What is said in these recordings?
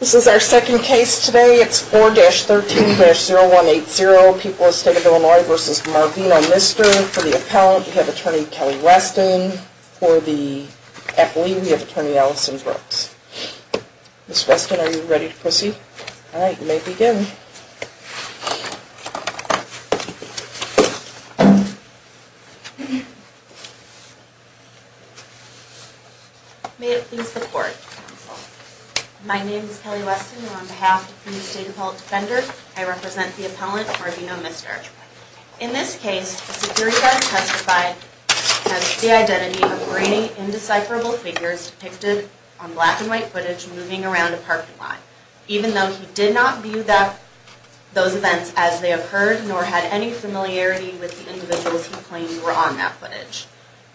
This is our second case today. It's 4-13-0180. People of the State of Illinois v. Marvino Mister. For the appellant, we have Attorney Kelly Weston. For the athlete, we have Attorney Allison Brooks. Ms. Weston, are you ready to proceed? All right, you may begin. My name is Kelly Weston, and on behalf of the State Appellate Defender, I represent the appellant, Marvino Mister. In this case, the security guard testified has the identity of grainy, indecipherable figures depicted on black and white footage moving around a parking lot, even though he did not view those events as they occurred, nor had any familiarity with the individuals he claimed were on that footage.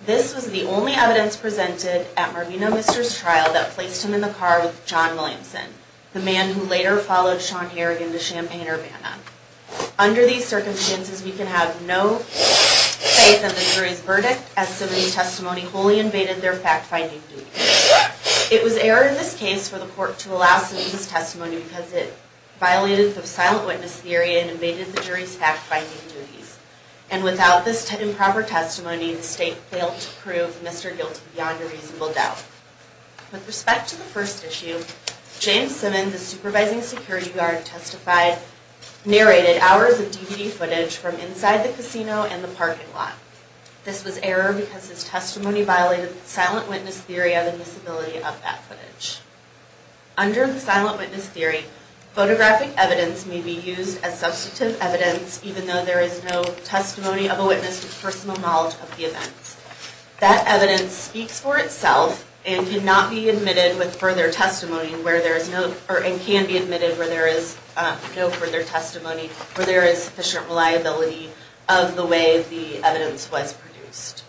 This was the only evidence presented at Marvino Mister's trial that placed him in the car with John Williamson, the man who later followed Sean Harrigan to Champaign-Urbana. Under these circumstances, we can have no faith in the jury's verdict as somebody's testimony wholly invaded their fact-finding duties. It was error in this case for the court to allow someone's testimony because it violated the silent witness theory and invaded the jury's fact-finding duties. And without this improper testimony, the State failed to prove Mister guilty beyond a reasonable doubt. With respect to the first issue, James Simmons, the supervising security guard, narrated hours of DVD footage from inside the casino and the parking lot. This was error because his testimony violated the silent witness theory of the visibility of that footage. Under the silent witness theory, photographic evidence may be used as substantive evidence even though there is no testimony of a witness with personal knowledge of the events. That evidence speaks for itself and cannot be admitted with further testimony, and can be admitted where there is no further testimony, where there is sufficient reliability of the way the evidence was produced.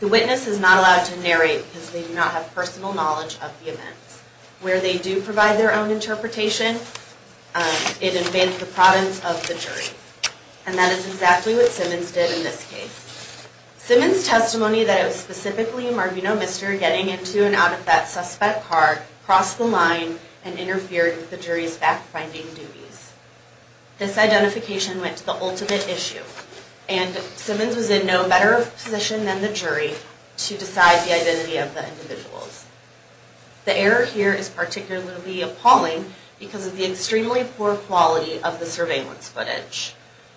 The witness is not allowed to narrate because they do not have personal knowledge of the events. Where they do provide their own interpretation, it invades the province of the jury. And that is exactly what Simmons did in this case. Simmons' testimony that it was specifically Marvino Mister getting into and out of that suspect's car crossed the line and interfered with the jury's fact-finding duties. This identification went to the ultimate issue, and Simmons was in no better position than the jury to decide the identity of the individuals. The error here is particularly appalling because of the extremely poor quality of the surveillance footage.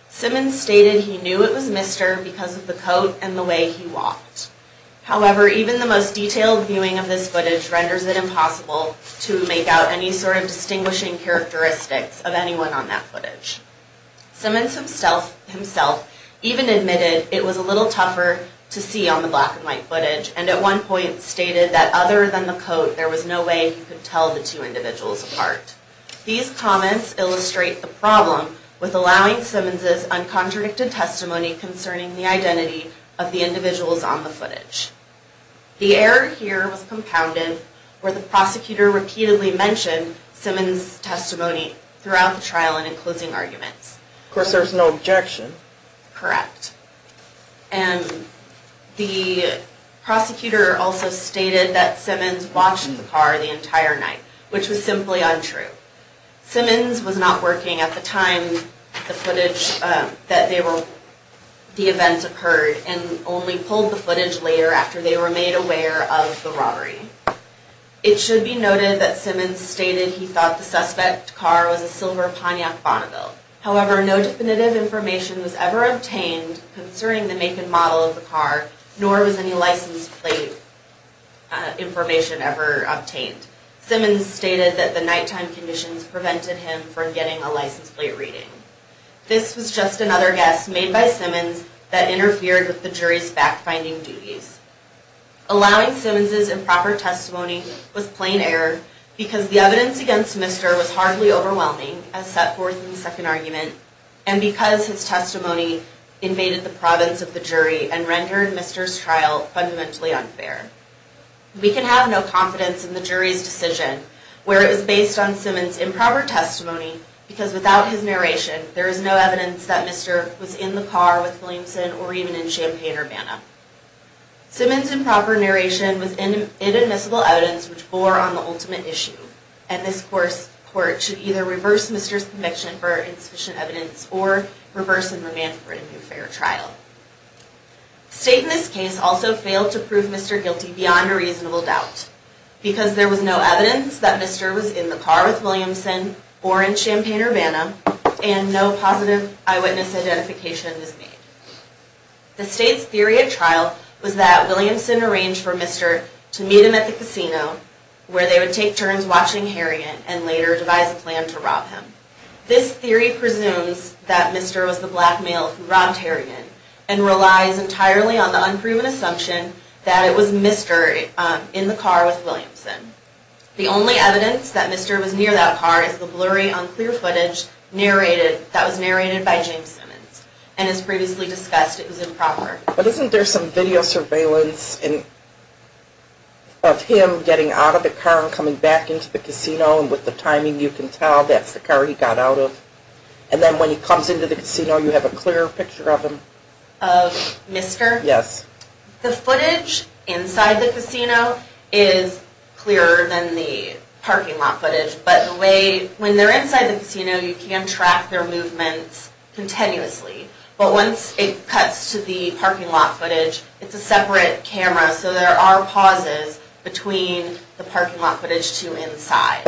Simmons stated he knew it was Mister because of the coat and the way he walked. However, even the most detailed viewing of this footage renders it impossible to make out any sort of distinguishing characteristics of anyone on that footage. Simmons himself even admitted it was a little tougher to see on the black and white footage, and at one point stated that other than the coat, there was no way he could tell the two individuals apart. These comments illustrate the problem with allowing Simmons' uncontradicted testimony concerning the identity of the individuals on the footage. The error here was compounded where the prosecutor repeatedly mentioned Simmons' testimony throughout the trial and in closing arguments. Of course there was no objection. The prosecutor also stated that Simmons watched the car the entire night, which was simply untrue. Simmons was not working at the time the event occurred and only pulled the footage later after they were made aware of the robbery. It should be noted that Simmons stated he thought the suspect car was a silver Pontiac Bonneville. However, no definitive information was ever obtained concerning the make and model of the car, nor was any license plate information ever obtained. Simmons stated that the nighttime conditions prevented him from getting a license plate reading. This was just another guess made by Simmons that interfered with the jury's fact-finding duties. Allowing Simmons' improper testimony was plain error because the evidence against Mr. was hardly overwhelming, as set forth in the second argument, and because his testimony invaded the province of the jury and rendered Mr.'s trial fundamentally unfair. We can have no confidence in the jury's decision where it was based on Simmons' improper testimony because without his narration there is no evidence that Mr. was in the car with Williamson or even in Champaign-Urbana. Simmons' improper narration was inadmissible evidence which bore on the ultimate issue and this court should either reverse Mr.'s conviction for insufficient evidence or reverse and remand for a new fair trial. State in this case also failed to prove Mr. guilty beyond a reasonable doubt because there was no evidence that Mr. was in the car with Williamson or in Champaign-Urbana and no positive eyewitness identification was made. The state's theory at trial was that Williamson arranged for Mr. to meet him at the casino where they would take turns watching Harrigan and later devise a plan to rob him. This theory presumes that Mr. was the black male who robbed Harrigan and relies entirely on the unproven assumption that it was Mr. in the car with Williamson. The only evidence that Mr. was near that car is the blurry unclear footage that was narrated by James Simmons and as previously discussed it was improper. But isn't there some video surveillance of him getting out of the car and coming back into the casino and with the timing you can tell that's the car he got out of? And then when he comes into the casino you have a clearer picture of him? Yes. But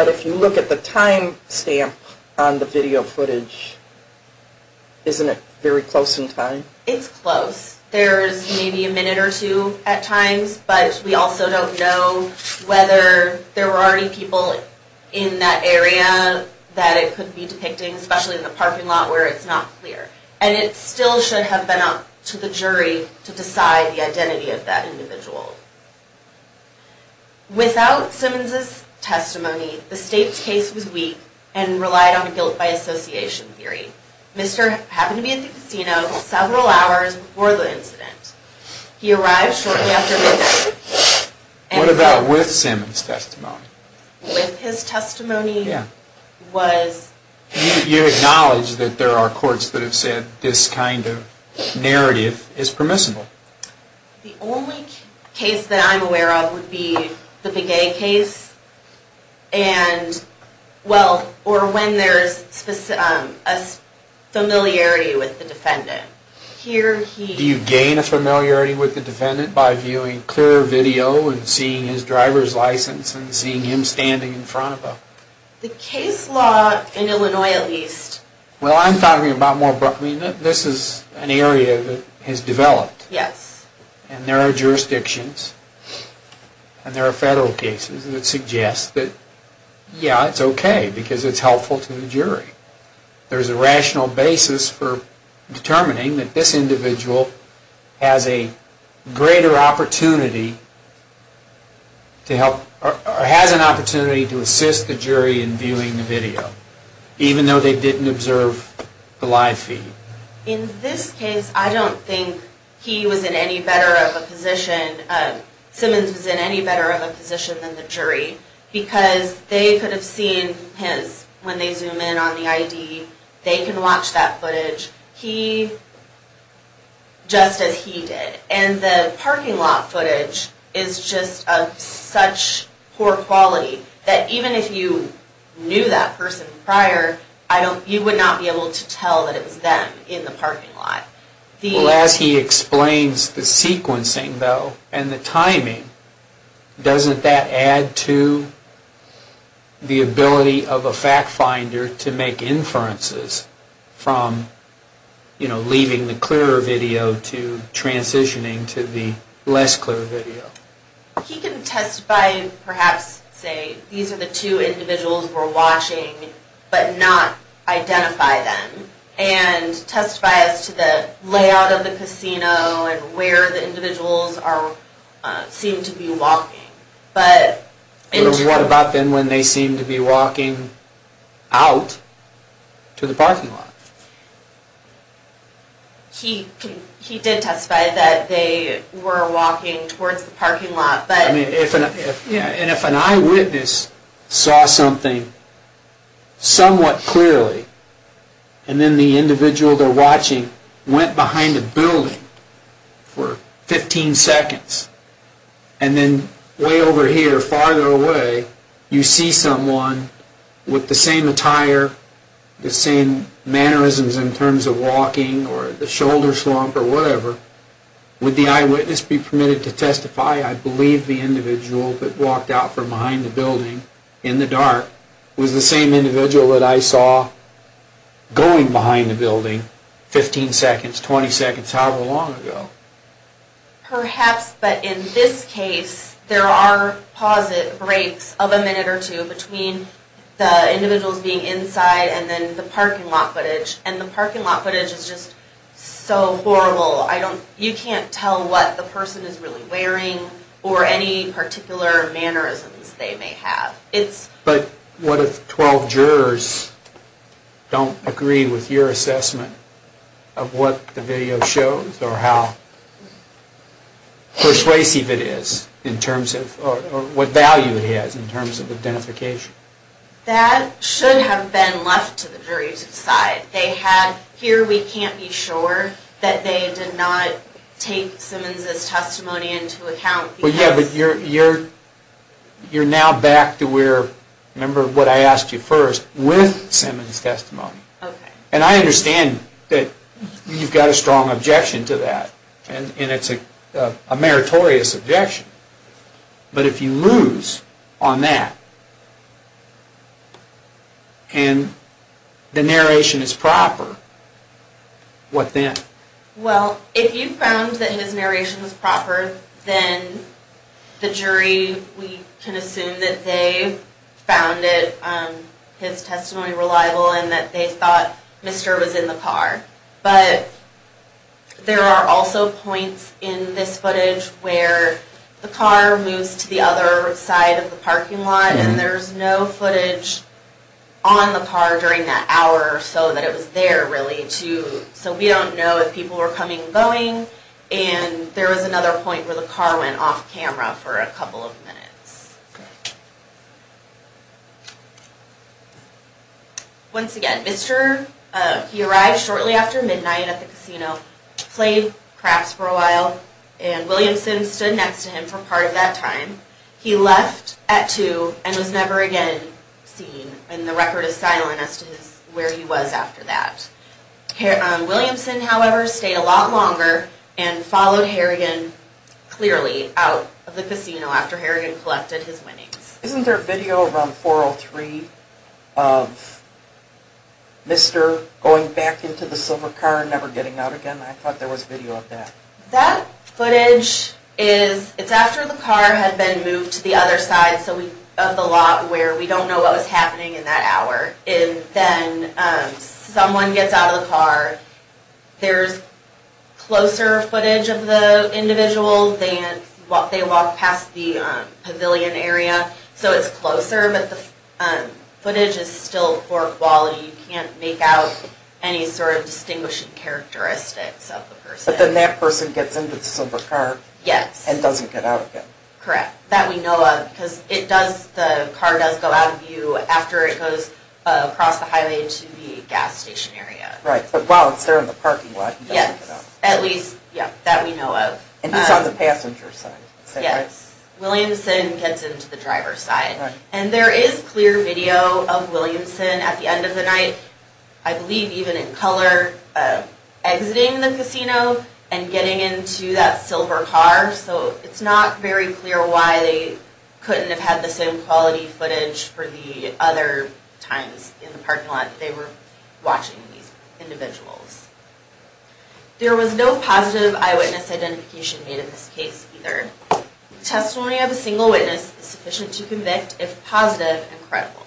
if you look at the time stamp on the video footage, isn't it very close in time? It's close. There's maybe a minute or two at times, but we also don't know whether there were already people in that area that it could be depicting, especially in the parking lot where it's not clear. And it still should have been up to the jury to decide the identity of that individual. Without Simmons' testimony, the state's case was weak and relied on guilt by association theory. Mr. happened to be at the casino several hours before the incident. He arrived shortly after midnight. What about with Simmons' testimony? With his testimony was... You acknowledge that there are courts that have said this kind of narrative is permissible? The only case that I'm aware of would be the Begay case and...well, or when there's a familiarity with the defendant. Do you gain a familiarity with the defendant by viewing clear video and seeing his driver's license and seeing him standing in front of him? The case law in Illinois at least... Well, I'm talking about more...this is an area that has developed. Yes. And there are jurisdictions and there are federal cases that suggest that, yeah, it's okay because it's helpful to the jury. There's a rational basis for determining that this individual has a greater opportunity to help... In this case, I don't think he was in any better of a position...Simmons was in any better of a position than the jury because they could have seen his...when they zoom in on the ID, they can watch that footage. He...just as he did. And the parking lot footage is just of such poor quality that even if you knew that person prior, you would not be able to tell that it was them in the parking lot. Well, as he explains the sequencing, though, and the timing, doesn't that add to the ability of a fact finder to make inferences from leaving the clearer video to transitioning to the less clear video? He can testify and perhaps say, these are the two individuals we're watching but not identify them and testify as to the layout of the casino and where the individuals seem to be walking. What about then when they seem to be walking out to the parking lot? He did testify that they were walking towards the parking lot but... And if an eyewitness saw something somewhat clearly and then the individual they're watching went behind a building for 15 seconds and then way over here, farther away, you see someone with the same attire, the same mannerisms in terms of walking or the shoulder slump or whatever, would the eyewitness be permitted to testify? I believe the individual that walked out from behind the building in the dark was the same individual that I saw going behind the building 15 seconds, 20 seconds, however long ago. Perhaps, but in this case, there are pause breaks of a minute or two between the individuals being inside and then the parking lot footage, and the parking lot footage is just so horrible. You can't tell what the person is really wearing or any particular mannerisms they may have. But what if 12 jurors don't agree with your assessment of what the video shows or how persuasive it is in terms of, or what value it has in terms of identification? That should have been left to the jury to decide. They had, here we can't be sure that they did not take Simmons' testimony into account because... Yeah, but you're now back to where, remember what I asked you first, with Simmons' testimony. And I understand that you've got a strong objection to that, and it's a meritorious objection. But if you lose on that, and the narration is proper, what then? Well, if you found that his narration was proper, then the jury, we can assume that they found his testimony reliable and that they thought Mr. was in the car. But there are also points in this footage where the car moves to the other side of the parking lot and there's no footage on the car during that hour or so that it was there, really. So we don't know if people were coming and going, and there was another point where the car went off camera for a couple of minutes. Once again, Mr., he arrived shortly after midnight at the casino, played craps for a while, and William Simms stood next to him for part of that time. He left at 2 and was never again seen, and the record is silent as to where he was after that. Williamson, however, stayed a lot longer and followed Harrigan clearly out of the casino after Harrigan collected his winnings. Isn't there a video around 4.03 of Mr. going back into the silver car and never getting out again? I thought there was video of that. That footage is after the car had been moved to the other side of the lot where we don't know what was happening in that hour. And then someone gets out of the car. There's closer footage of the individual. They walked past the pavilion area, so it's closer, but the footage is still poor quality. You can't make out any sort of distinguishing characteristics of the person. But then that person gets into the silver car and doesn't get out again. Correct. That we know of because the car does go out of view after it goes across the highway to the gas station area. Right, but while it's there in the parking lot, he doesn't get out. Yes, at least that we know of. And he's on the passenger side. Yes, Williamson gets into the driver's side. And there is clear video of Williamson at the end of the night, I believe even in color, exiting the casino and getting into that silver car. So it's not very clear why they couldn't have had the same quality footage for the other times in the parking lot that they were watching these individuals. There was no positive eyewitness identification made in this case either. Testimony of a single witness is sufficient to convict if positive and credible.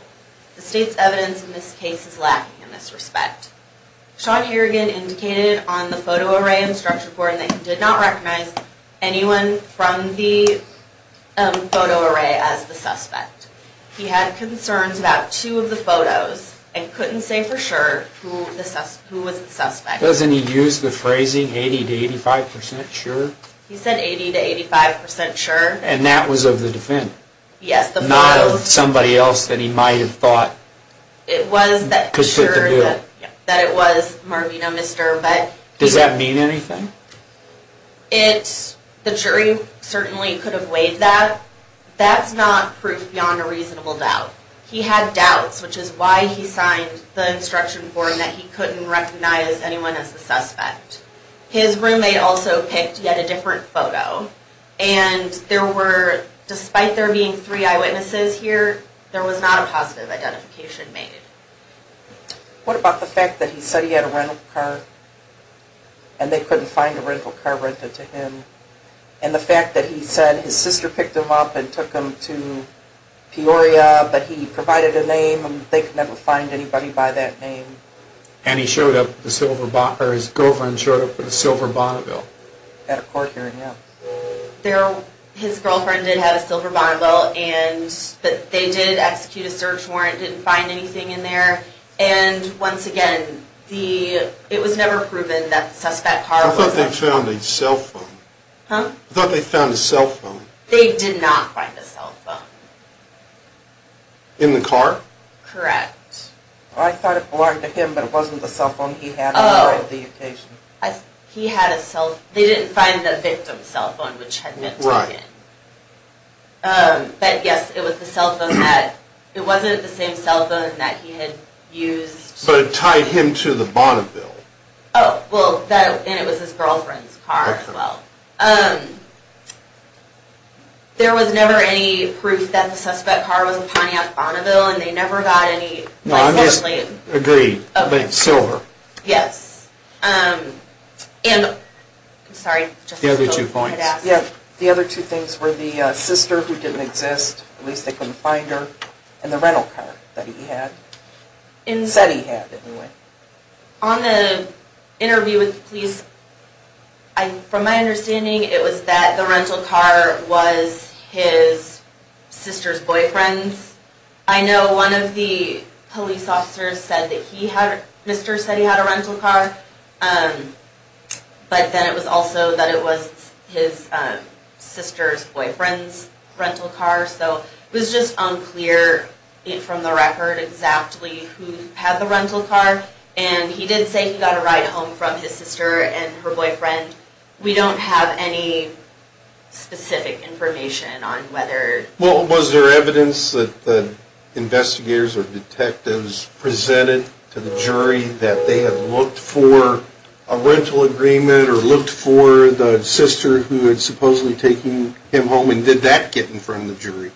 The state's evidence in this case is lacking in this respect. Sean Harrigan indicated on the photo array and structure report that he did not recognize anyone from the photo array as the suspect. He had concerns about two of the photos and couldn't say for sure who was the suspect. Doesn't he use the phrasing 80 to 85% sure? He said 80 to 85% sure. And that was of the defendant? Yes. Not of somebody else that he might have thought? It was that it was Marvino, Mr. Does that mean anything? The jury certainly could have weighed that. That's not proof beyond a reasonable doubt. He had doubts, which is why he signed the instruction form that he couldn't recognize anyone as the suspect. His roommate also picked yet a different photo. And despite there being three eyewitnesses here, there was not a positive identification made. What about the fact that he said he had a rental car and they couldn't find a rental car rented to him? And the fact that he said his sister picked him up and took him to Peoria but he provided a name and they could never find anybody by that name? And his girlfriend showed up with a silver Bonneville? At a court hearing, yes. His girlfriend did have a silver Bonneville and they did execute a search warrant, didn't find anything in there. And once again, it was never proven that the suspect's car was a Bonneville. I thought they found a cell phone. Huh? I thought they found a cell phone. They did not find a cell phone. In the car? Correct. I thought it belonged to him, but it wasn't the cell phone he had on the occasion. He had a cell phone. They didn't find the victim's cell phone, which had been taken. Right. But, yes, it was the cell phone that, it wasn't the same cell phone that he had used. But it tied him to the Bonneville. Oh, well, and it was his girlfriend's car as well. Okay. There was never any proof that the suspect's car was a Pontiac Bonneville and they never got any, like, certainly. No, I'm just, agreed, but silver. Yes. And, I'm sorry. The other two points. Yeah, the other two things were the sister who didn't exist, at least they couldn't find her, and the rental car that he had, said he had, anyway. On the interview with the police, from my understanding, it was that the rental car was his sister's boyfriend's. I know one of the police officers said that he had, Mr. said he had a rental car, but then it was also that it was his sister's boyfriend's rental car, so it was just unclear from the record exactly who had the rental car, and he did say he got a ride home from his sister and her boyfriend. We don't have any specific information on whether. Well, was there evidence that the investigators or detectives presented to the jury that they had looked for a rental agreement, or looked for the sister who had supposedly taken him home, and did that get in front of the jury?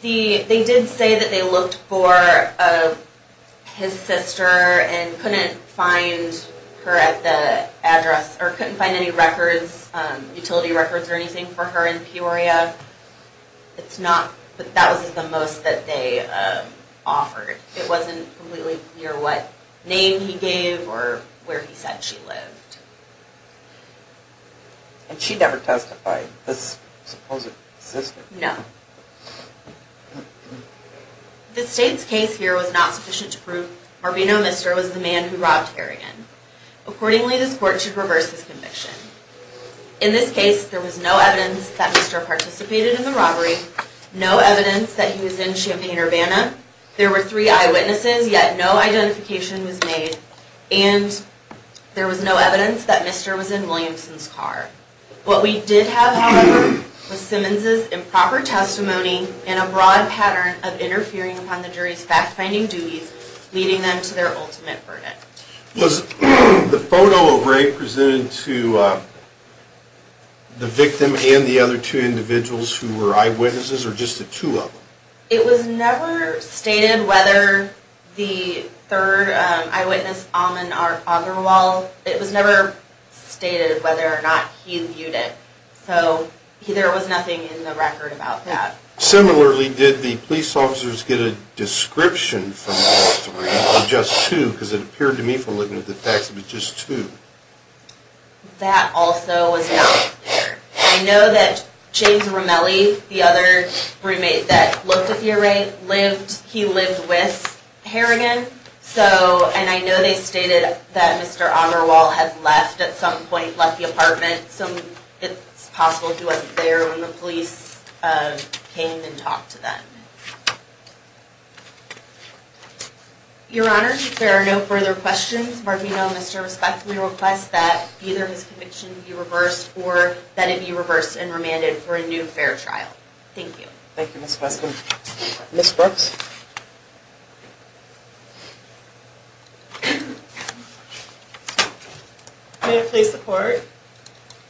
They did say that they looked for his sister and couldn't find her at the address, or couldn't find any records, utility records or anything for her in Peoria. It's not, that was the most that they offered. It wasn't completely clear what name he gave or where he said she lived. And she never testified, this supposed sister? No. The state's case here was not sufficient to prove Marbino Mister was the man who robbed Kerrigan. Accordingly, this court should reverse this conviction. In this case, there was no evidence that Mister participated in the robbery, no evidence that he was in Champaign-Urbana, there were three eyewitnesses, yet no identification was made, and there was no evidence that Mister was in Williamson's car. What we did have, however, was Simmons's improper testimony and a broad pattern of interfering upon the jury's fact-finding duties, leading them to their ultimate burden. Was the photo of Rae presented to the victim and the other two individuals who were eyewitnesses, or just the two of them? It was never stated whether the third eyewitness, Alman Agrawal, it was never stated whether or not he viewed it. So there was nothing in the record about that. Similarly, did the police officers get a description from the testimony, or just two, because it appeared to me from looking at the facts that it was just two? That also was not there. I know that James Romelli, the other roommate that looked at the array, he lived with Kerrigan, and I know they stated that Mister Agrawal had left at some point, left the apartment, and it's possible he wasn't there when the police came and talked to them. Your Honor, if there are no further questions, Markino must respectfully request that either his conviction be reversed or that it be reversed and remanded for a new fair trial. Thank you. Thank you, Ms. Weston. Ms. Brooks? Thank you, Your Honor. May it please the Court,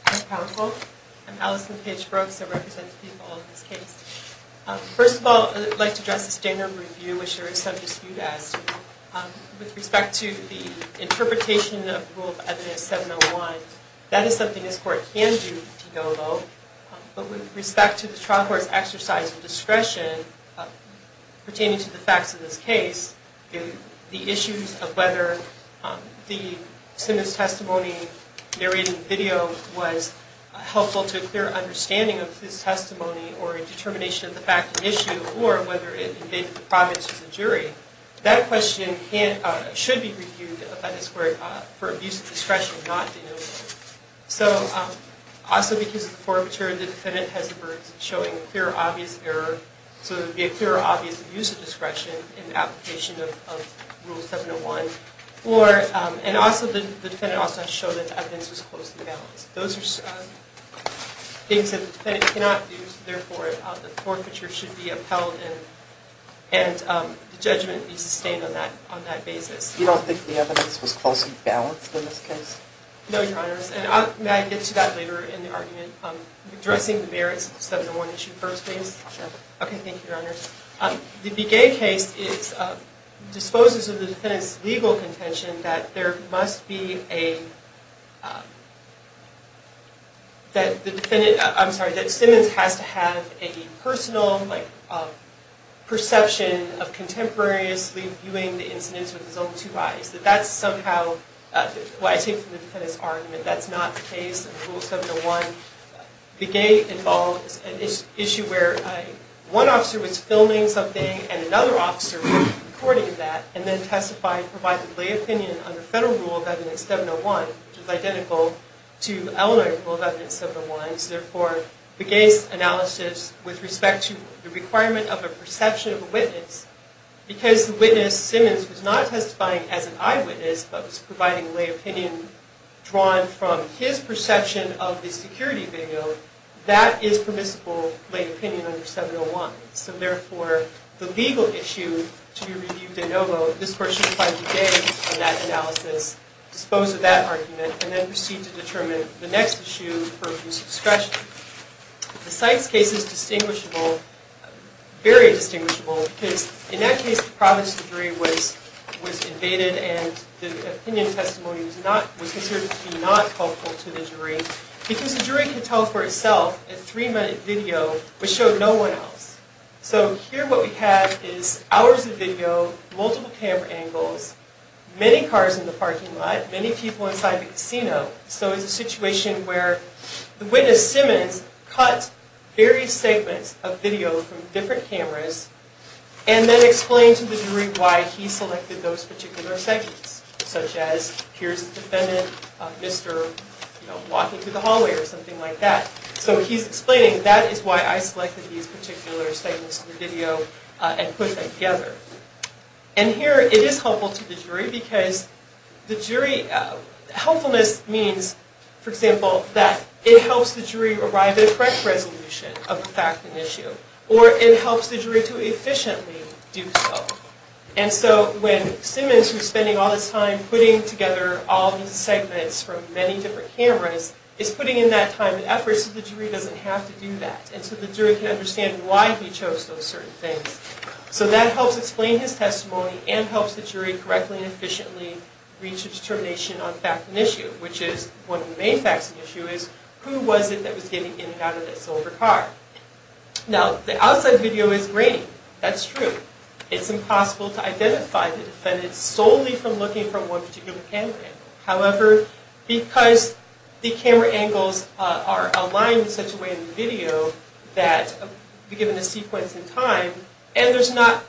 I'm Allison Page Brooks. I represent the people of this case. First of all, I'd like to address the standard review, which there is some dispute as to. With respect to the interpretation of Rule of Evidence 701, that is something this Court can do to go about, but with respect to the trial court's exercise of discretion pertaining to the facts of this case, the issues of whether the sentence testimony narrated in the video was helpful to a clear understanding of this testimony or a determination of the fact of the issue, or whether it invaded the province as a jury, that question should be reviewed by this Court for abuse of discretion not denoted. So, also because of the forfeiture, the defendant has shown a clear, obvious error, so there would be a clear, obvious abuse of discretion in application of Rule 701. And also, the defendant also has shown that the evidence was closely balanced. Those are things that the defendant cannot do, so therefore the forfeiture should be upheld and the judgment be sustained on that basis. You don't think the evidence was closely balanced in this case? No, Your Honors. And may I get to that later in the argument? Addressing the merits of the 701 issue first, please? Okay, thank you, Your Honors. The Begay case disposes of the defendant's legal contention that there must be a, that the defendant, I'm sorry, that Simmons has to have a personal perception of contemporaries reviewing the incidents with his own two eyes. That that's somehow, what I take from the defendant's argument, that's not the case in Rule 701. Begay involves an issue where one officer was filming something and another officer was recording that and then testifying to provide the plea opinion under Federal Rule of Evidence 701, which is identical to Illinois Rule of Evidence 701. So therefore, Begay's analysis, with respect to the requirement of a perception of a witness, because the witness, Simmons, was not testifying as an eyewitness, but was providing a plea opinion drawn from his perception of the security video, that is permissible plea opinion under 701. So therefore, the legal issue to be reviewed de novo, this Court should find Begay in that analysis, dispose of that argument, and then proceed to determine the next issue for whose discretion. The Sykes case is distinguishable, very distinguishable, because in that case, the province jury was invaded and the opinion testimony was considered to be not helpful to the jury, because the jury can tell for itself a three-minute video which showed no one else. So here what we have is hours of video, multiple camera angles, many cars in the parking lot, many people inside the casino. So it's a situation where the witness, Simmons, cuts various segments of video from different cameras and then explains to the jury why he selected those particular segments, such as, here's the defendant, mister walking through the hallway, or something like that. So he's explaining, that is why I selected these particular segments of the video and put them together. And here, it is helpful to the jury, because the jury... ...of the fact and issue, or it helps the jury to efficiently do so. And so when Simmons, who's spending all this time putting together all these segments from many different cameras, is putting in that time and effort so the jury doesn't have to do that, and so the jury can understand why he chose those certain things. So that helps explain his testimony and helps the jury correctly and efficiently reach a determination on fact and issue, which is, one of the main facts and issue is, who was it that was getting in and out of that silver car? Now, the outside video is grainy. That's true. It's impossible to identify the defendant solely from looking from one particular camera angle. However, because the camera angles are aligned in such a way in the video that we're given a sequence in time, and there's not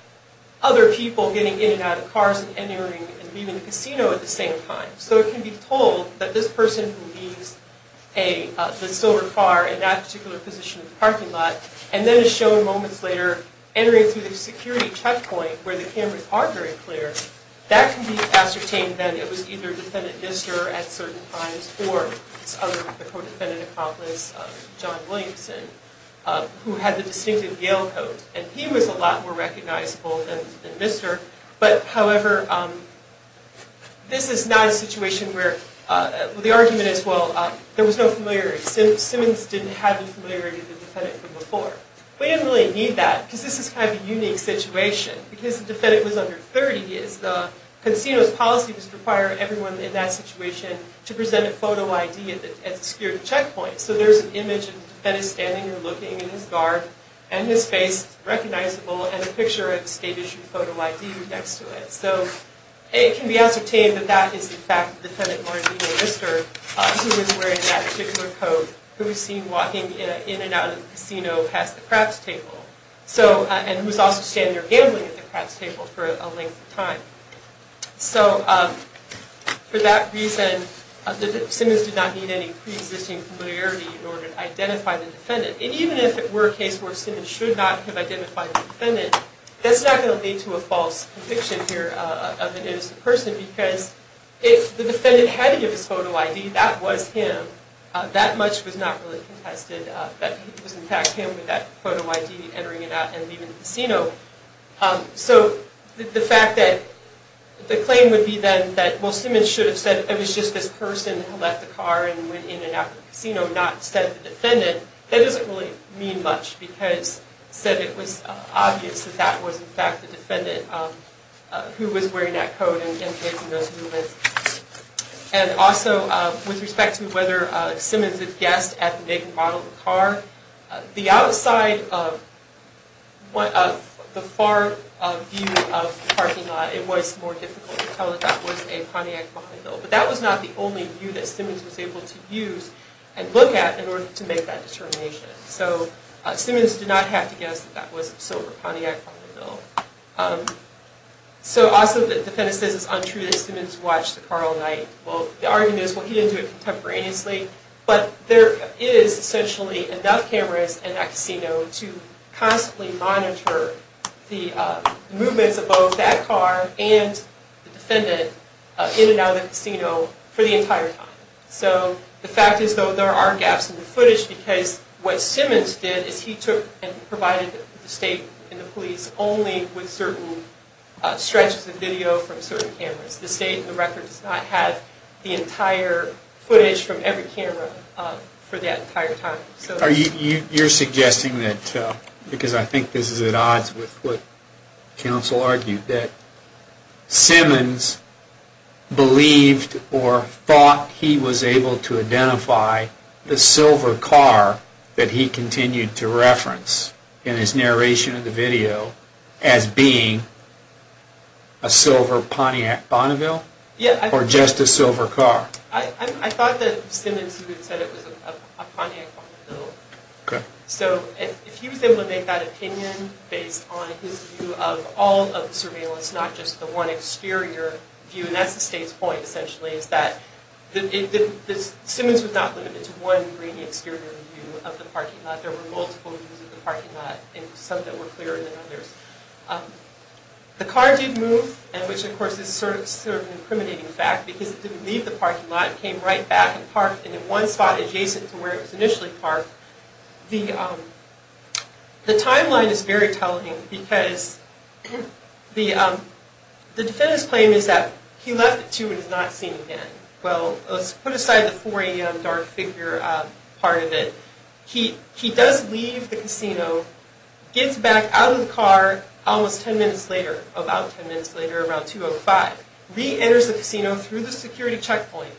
other people getting in and out of the cars and entering and leaving the casino at the same time. So it can be told that this person who leaves the silver car in that particular position in the parking lot, and then is shown moments later entering through the security checkpoint where the cameras are very clear, that can be ascertained that it was either defendant Mr. at certain times or the co-defendant accomplice, John Williamson, who had the distinctive Yale coat. And he was a lot more recognizable than Mr. But, however, this is not a situation where the argument is, well, there was no familiarity. Simmons didn't have the familiarity of the defendant from before. We didn't really need that, because this is kind of a unique situation. Because the defendant was under 30, the casino's policy was to require everyone in that situation to present a photo ID at the security checkpoint. So there's an image of the defendant standing or looking in his garb and his face recognizable, and a picture of the state-issued photo ID next to it. So it can be ascertained that that is, in fact, the defendant, Martin Lister, who was wearing that particular coat, who was seen walking in and out of the casino past the craps table, and who was also standing or gambling at the craps table for a length of time. So for that reason, Simmons did not need any pre-existing familiarity in order to identify the defendant. And even if it were a case where Simmons should not have identified the defendant, that's not going to lead to a false conviction here of an innocent person, because if the defendant had to give his photo ID, that was him. That much was not really contested, that it was, in fact, him with that photo ID entering and leaving the casino. So the fact that the claim would be then that, well, Simmons should have said it was just this person who left the car and went in and out of the casino, not said the defendant, that doesn't really mean much, because said it was obvious that that was, in fact, the defendant who was wearing that coat and making those movements. And also, with respect to whether Simmons had guessed at making the model of the car, the outside of the far view of the parking lot, it was more difficult to tell that that was a Pontiac behind the wheel. But that was not the only view that Simmons was able to use and look at in order to make that determination. So Simmons did not have to guess that that was a silver Pontiac behind the wheel. So also the defendant says it's untrue that Simmons watched the car all night. Well, the argument is, well, he didn't do it contemporaneously, but there is essentially enough cameras in that casino to constantly monitor the movements of both that car and the defendant in and out of the casino for the entire time. So the fact is, though, there are gaps in the footage, because what Simmons did is he took and provided the state and the police only with certain stretches of video from certain cameras. The state in the record does not have the entire footage from every camera for that entire time. You're suggesting that, because I think this is at odds with what counsel argued, that Simmons believed or thought he was able to identify the silver car that he continued to reference in his narration of the video as being a silver Pontiac Bonneville or just a silver car? I thought that Simmons even said it was a Pontiac Bonneville. So if he was able to make that opinion based on his view of all of the surveillance, not just the one exterior view, and that's the state's point essentially, is that Simmons was not limited to one grainy exterior view of the parking lot. There were multiple views of the parking lot, some that were clearer than others. The car did move, which of course is sort of an incriminating fact, because it didn't leave the parking lot. It came right back and parked in one spot adjacent to where it was initially parked. The timeline is very telling because the defendant's claim is that he left it too and is not seeing it again. Well, let's put aside the 4 a.m. dark figure part of it. He does leave the casino, gets back out of the car almost 10 minutes later, about 10 minutes later, around 2.05, re-enters the casino through the security checkpoint,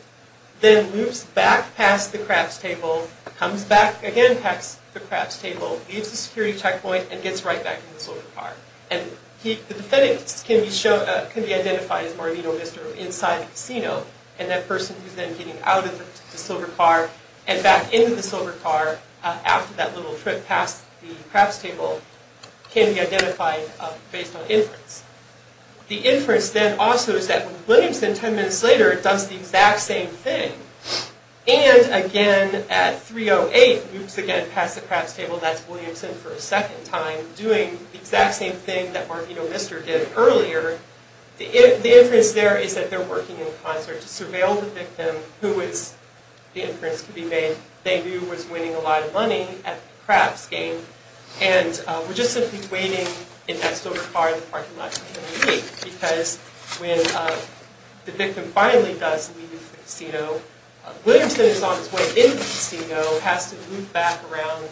then loops back past the craps table, comes back again past the craps table, leaves the security checkpoint, and gets right back in the silver car. The defendant can be identified as Marino Vistro inside the casino, and that person who's then getting out of the silver car and back into the silver car after that little trip past the craps table can be identified based on inference. The inference then also is that Williamson, 10 minutes later, does the exact same thing, and again at 3.08, loops again past the craps table, that's Williamson for a second time, doing the exact same thing that Marino Vistro did earlier. The inference there is that they're working in concert to surveil the victim, who is the inference to be made, they knew was winning a lot of money at the craps game, and were just simply waiting in that silver car in the parking lot for him to leave, because when the victim finally does leave the casino, Williamson is on his way in the casino, has to loop back around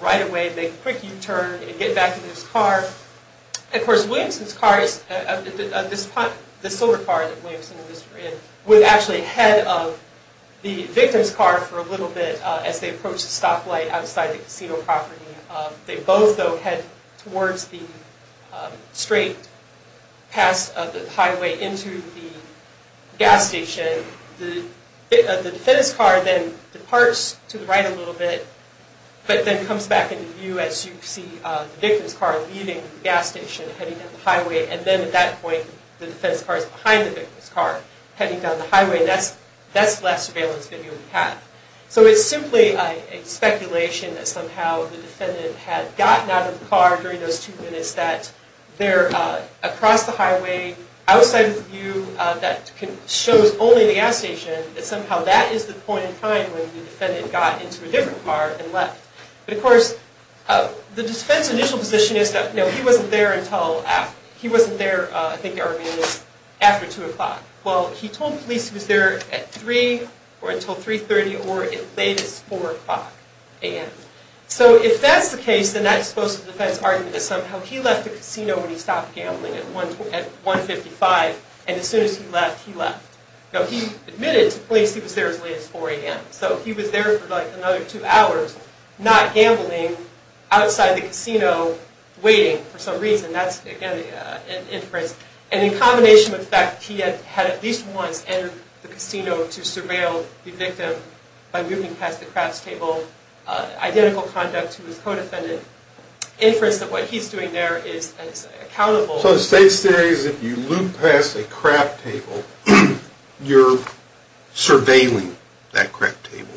right away, make a quick U-turn, and get back in his car. Of course, Williamson's car, the silver car that Williamson and Vistro were in, was actually ahead of the victim's car for a little bit as they approached the stoplight outside the casino property. They both, though, head towards the straight pass of the highway into the gas station. The defendant's car then departs to the right a little bit, but then comes back into view as you see the victim's car leaving the gas station, heading down the highway, and then at that point, the defendant's car is behind the victim's car, heading down the highway, and that's the last surveillance video we have. So it's simply a speculation that somehow the defendant had gotten out of the car during those two minutes, that they're across the highway, outside of the view, that shows only the gas station, that somehow that is the point in time when the defendant got into a different car and left. But of course, the defendant's initial position is that he wasn't there until after 2 o'clock. Well, he told police he was there at 3, or until 3.30, or at latest 4 o'clock a.m. So if that's the case, then that's supposed to defend his argument that somehow he left the casino when he stopped gambling at 1.55, and as soon as he left, he left. Now, he admitted to police he was there as late as 4 a.m., so he was there for like another two hours, not gambling, outside the casino, waiting for some reason. And that's, again, an inference. And in combination with the fact he had at least once entered the casino to surveil the victim by looping past the craps table, identical conduct to his co-defendant, inference that what he's doing there is accountable. So the state's theory is if you loop past a crap table, you're surveilling that crap table.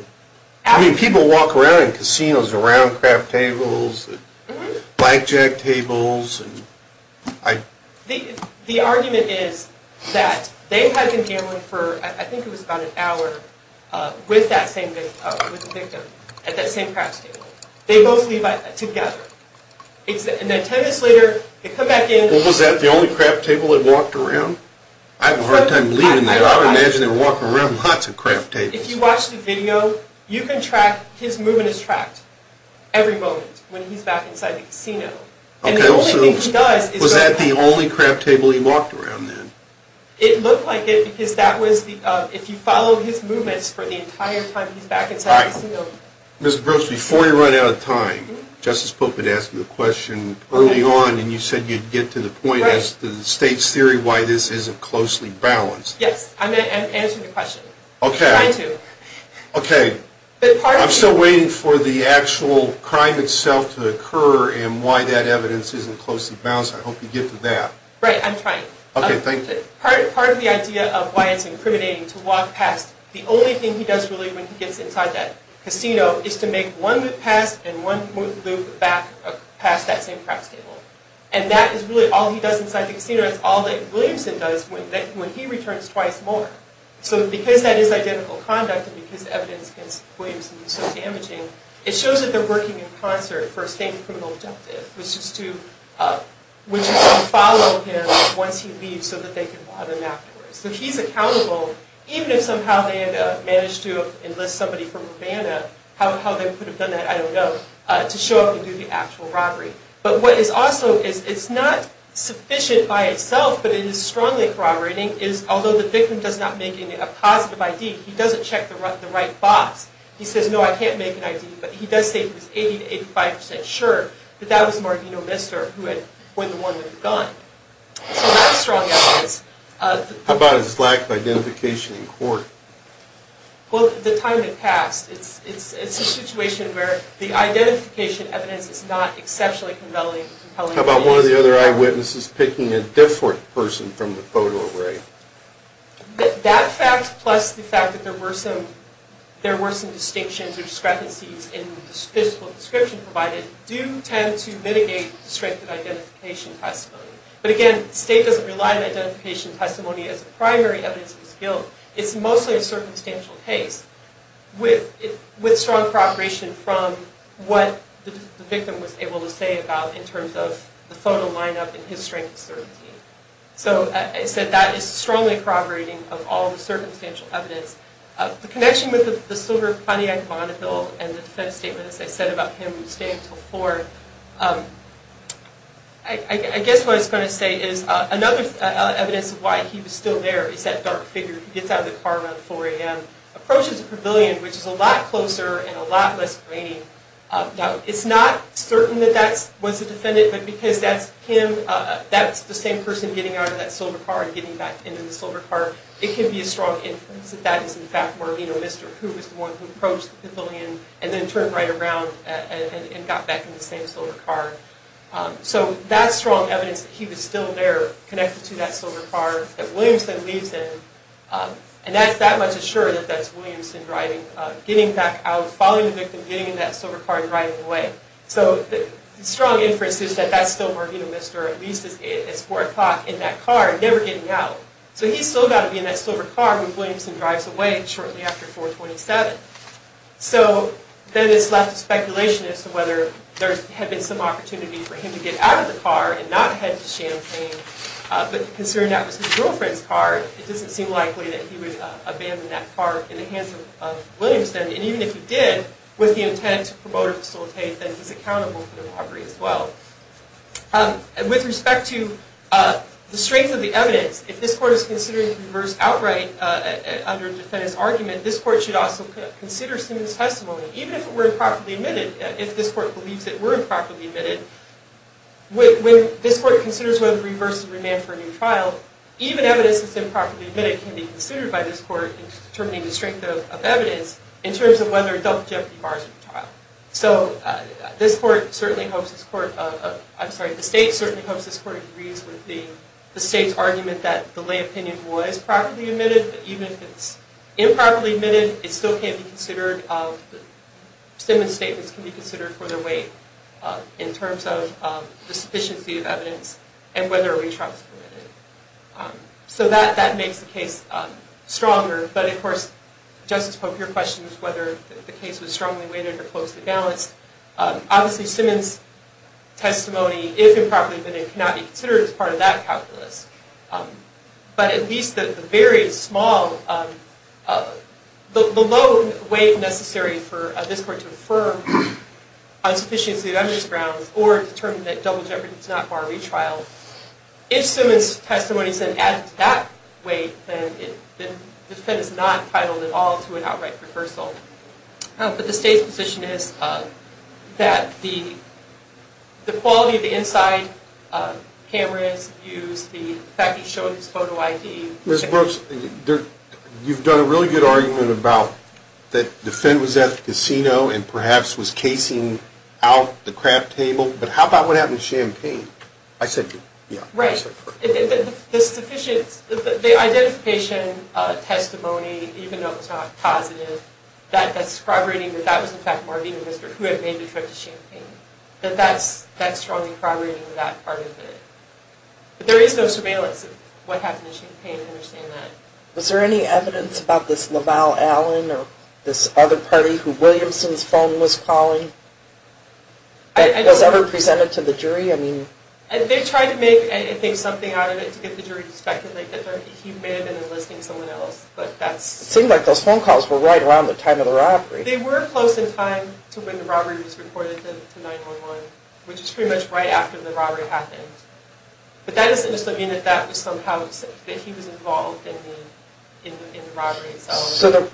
I mean, people walk around in casinos around crap tables, blackjack tables. The argument is that they had been gambling for, I think it was about an hour, with the victim at that same crap table. They both leave together. And then 10 minutes later, they come back in. Well, was that the only crap table they walked around? I have a hard time believing that. I would imagine they were walking around lots of crap tables. If you watch the video, you can track, his movement is tracked every moment when he's back inside the casino. And the only thing he does is... Was that the only crap table he walked around then? It looked like it, because that was the... If you follow his movements for the entire time he's back inside the casino... All right. Ms. Brooks, before you run out of time, Justice Pope had asked me the question early on, and you said you'd get to the point as to the state's theory why this isn't closely balanced. Yes. I'm going to answer the question. Okay. I'm trying to. Okay. I'm still waiting for the actual crime itself to occur and why that evidence isn't closely balanced. I hope you get to that. Right, I'm trying. Okay, thank you. Part of the idea of why it's incriminating to walk past, the only thing he does really when he gets inside that casino, is to make one loop past and one loop back past that same crap table. And that is really all he does inside the casino. It's all that Williamson does when he returns twice more. So because that is identical conduct and because the evidence against Williamson is so damaging, it shows that they're working in concert for a same criminal objective, which is to follow him once he leaves so that they can bother him afterwards. So he's accountable, even if somehow they had managed to enlist somebody from Havana, how they could have done that, I don't know, to show up and do the actual robbery. But what is also, it's not sufficient by itself, but it is strongly corroborating, is although the victim does not make a positive ID, he doesn't check the right box. He says, no, I can't make an ID, but he does say he was 80% to 85% sure that that was Margino Mister who had pointed the one with the gun. So that's strong evidence. How about his lack of identification in court? Well, the time had passed. It's a situation where the identification evidence is not exceptionally compelling evidence. How about one of the other eyewitnesses picking a different person from the photo array? That fact plus the fact that there were some distinctions or discrepancies in the physical description provided do tend to mitigate the strength of identification testimony. But again, the state doesn't rely on identification testimony as a primary evidence of his guilt. It's mostly a circumstantial case with strong corroboration from what the victim was able to say about in terms of the photo lineup and his strength of certainty. So I said that is strongly corroborating of all the circumstantial evidence. The connection with the silver Pontiac Bonneville and the defense statement, as I said, about him staying until 4, I guess what I was going to say is another evidence of why he was still there is that dark figure who gets out of the car around 4 a.m., approaches the pavilion, which is a lot closer and a lot less grainy. Now, it's not certain that that was the defendant, but because that's him, that's the same person getting out of that silver car and getting back into the silver car, it could be a strong evidence that that is, in fact, where Mr. Who was the one who approached the pavilion and then turned right around and got back in the same silver car. So that's strong evidence that he was still there, connected to that silver car that Williamson leaves in, and that's that much assured that that's Williamson driving, getting back out, following the victim, getting in that silver car and driving away. So the strong inference is that that's still where Mr. At least is at 4 o'clock in that car, never getting out. So he's still got to be in that silver car when Williamson drives away shortly after 427. So then it's left to speculation as to whether there had been some opportunity for him to get out of the car and not head to Champaign, but considering that was his girlfriend's car, it doesn't seem likely that he would abandon that car in the hands of Williamson. And even if he did, with the intent to promote or facilitate, then he's accountable for the robbery as well. With respect to the strength of the evidence, if this court is considering to reverse outright under the defendant's argument, this court should also consider Simmons' testimony, even if it were improperly admitted, if this court believes it were improperly admitted. When this court considers whether to reverse and remand for a new trial, even evidence that's improperly admitted can be considered by this court in determining the strength of evidence in terms of whether a double jeopardy bar is required. So the state certainly hopes this court agrees with the state's argument that the lay opinion was properly admitted, but even if it's improperly admitted, Simmons' statements can be considered for their weight in terms of the sufficiency of evidence and whether a retrial is permitted. So that makes the case stronger. But of course, Justice Pope, your question is whether the case was strongly weighted or closely balanced. Obviously, Simmons' testimony, if improperly admitted, cannot be considered as part of that calculus. But at least the very small, the low weight necessary for this court to affirm on sufficiency of evidence grounds or determine that double jeopardy does not bar a retrial, if Simmons' testimony is added to that weight, then the defendant is not entitled at all to an outright reversal. But the state's position is that the quality of the inside, cameras, views, the fact he showed his photo ID... Ms. Brooks, you've done a really good argument about that the defendant was at the casino and perhaps was casing out the craft table, but how about what happened to Champagne? I said you. Right. The identification testimony, even though it was not positive, that's corroborating that that was in fact more of even who had made the trip to Champagne. That's strongly corroborating that part of it. But there is no surveillance of what happened to Champagne, I understand that. Was there any evidence about this LaValle Allen or this other party who Williamson's phone was calling? Was ever presented to the jury? They tried to make something out of it to get the jury to suspect that he may have been enlisting someone else. It seemed like those phone calls were right around the time of the robbery. They were close in time to when the robbery was reported to 9-1-1, which is pretty much right after the robbery happened. But that doesn't necessarily mean that he was involved in the robbery itself. So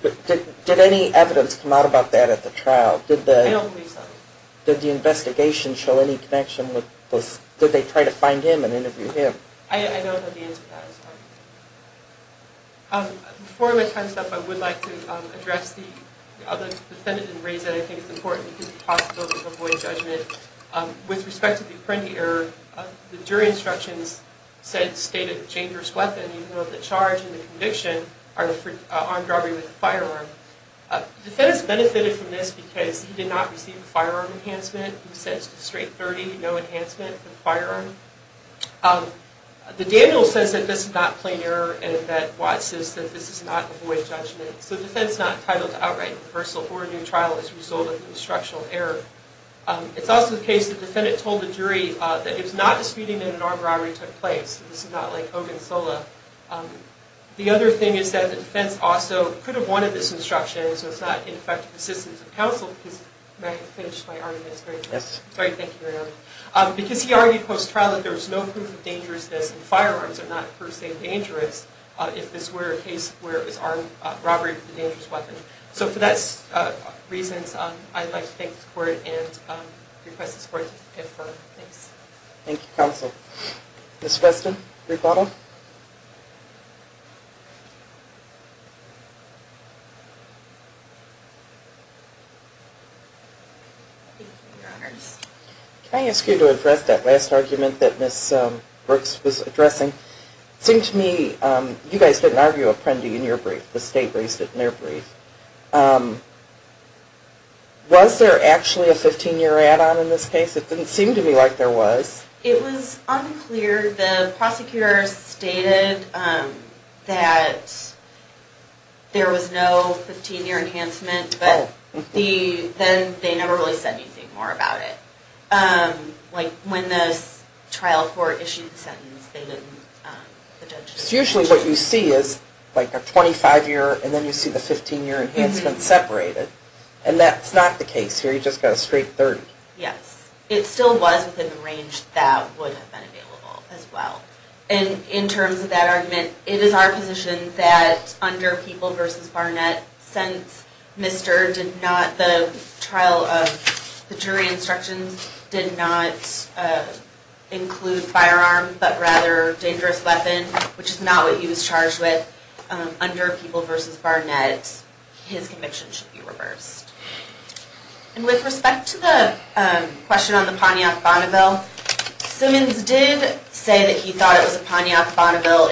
did any evidence come out about that at the trial? I don't believe so. Did the investigation show any connection with this? Did they try to find him and interview him? I don't know the answer to that, I'm sorry. Before I let time stop, I would like to address the other defendant in the race that I think is important because it's possible to avoid judgment. With respect to the apprentice error, the jury instructions said, stated, even though the charge and the conviction are for armed robbery with a firearm. The defendant benefited from this because he did not receive a firearm enhancement. He was sentenced to straight 30, no enhancement for the firearm. The Daniels says that this is not plain error and that Watts says that this is not avoid judgment. So the defendant is not entitled to outright reversal or a new trial as a result of an instructional error. It's also the case that the defendant told the jury that he was not disputing that an armed robbery took place. This is not like Hogan-Sola. The other thing is that the defense also could have wanted this instruction, so it's not in effect of assistance of counsel. May I finish my argument? Yes. Sorry, thank you, Your Honor. Because he argued post-trial that there was no proof of dangerousness and firearms are not per se dangerous if this were a case where it was armed robbery with a dangerous weapon. So for those reasons, I'd like to thank the court and request the court to defer. Thanks. Thank you, counsel. Ms. Weston, rebuttal. Thank you, Your Honors. Can I ask you to address that last argument that Ms. Brooks was addressing? It seemed to me you guys didn't argue a prendy in your brief. The state raised it in their brief. Was there actually a 15-year add-on in this case? It didn't seem to me like there was. It was unclear. The prosecutor stated that there was no 15-year enhancement, but then they never really said anything more about it. Like when the trial court issued the sentence, they didn't. Usually what you see is like a 25-year, and then you see the 15-year enhancement separated, and that's not the case here. You just got a straight 30. Yes. It still was within the range that would have been available as well. And in terms of that argument, it is our position that under People v. Barnett, since the trial of the jury instructions did not include firearms but rather dangerous weapons, which is not what he was charged with, under People v. Barnett, his conviction should be reversed. And with respect to the question on the Pontiac Bonneville, Simmons did say that he thought it was a Pontiac Bonneville.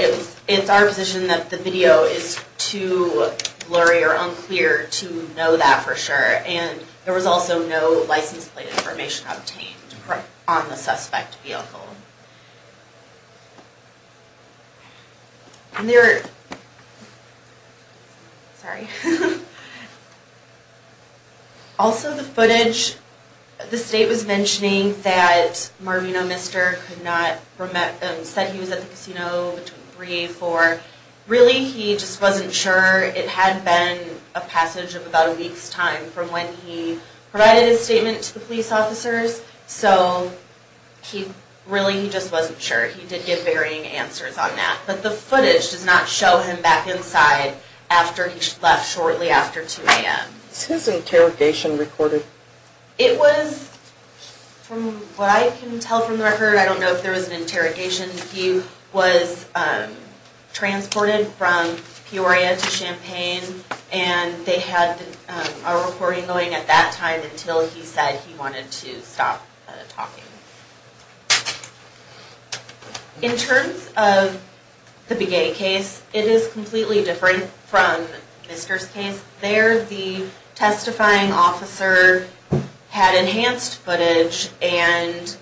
It's our position that the video is too blurry or unclear to know that for sure, and there was also no license plate information obtained on the suspect vehicle. Sorry. Also, the footage, the state was mentioning that Marvino Mister said he was at the casino between 3 and 4. Really, he just wasn't sure. It had been a passage of about a week's time from when he provided his statement to the police officers, so really he just wasn't sure. He did give varying answers on that. But the footage does not show him back inside after he left shortly after 2 a.m. Is his interrogation recorded? It was, from what I can tell from the record, I don't know if there was an interrogation. He was transported from Peoria to Champaign, and they had a recording going at that time until he said he wanted to stop talking. In terms of the Begay case, it is completely different from Mister's case. There, the testifying officer had enhanced footage and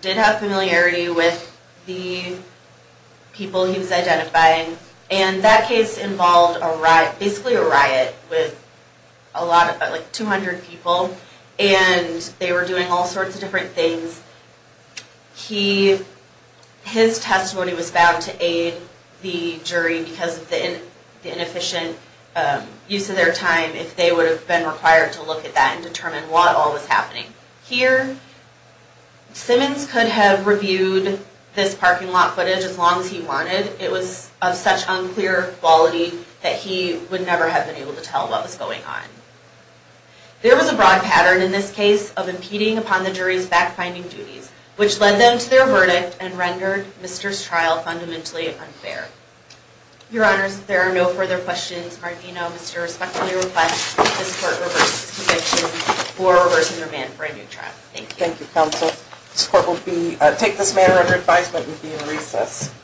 did have familiarity with the people he was identifying, and that case involved basically a riot with 200 people, and they were doing all sorts of different things. His testimony was bound to aid the jury because of the inefficient use of their time if they would have been required to look at that and determine what all was happening. Here, Simmons could have reviewed this parking lot footage as long as he wanted. It was of such unclear quality that he would never have been able to tell what was going on. There was a broad pattern in this case of impeding upon the jury's backfinding duties, which led them to their verdict and rendered Mister's trial fundamentally unfair. Your Honors, if there are no further questions, Martino, Mister respectfully requests that this Court reverse its conviction for reversing their ban for a new trial. Thank you. Thank you, Counsel. This Court will take this matter under advisement and be in recess.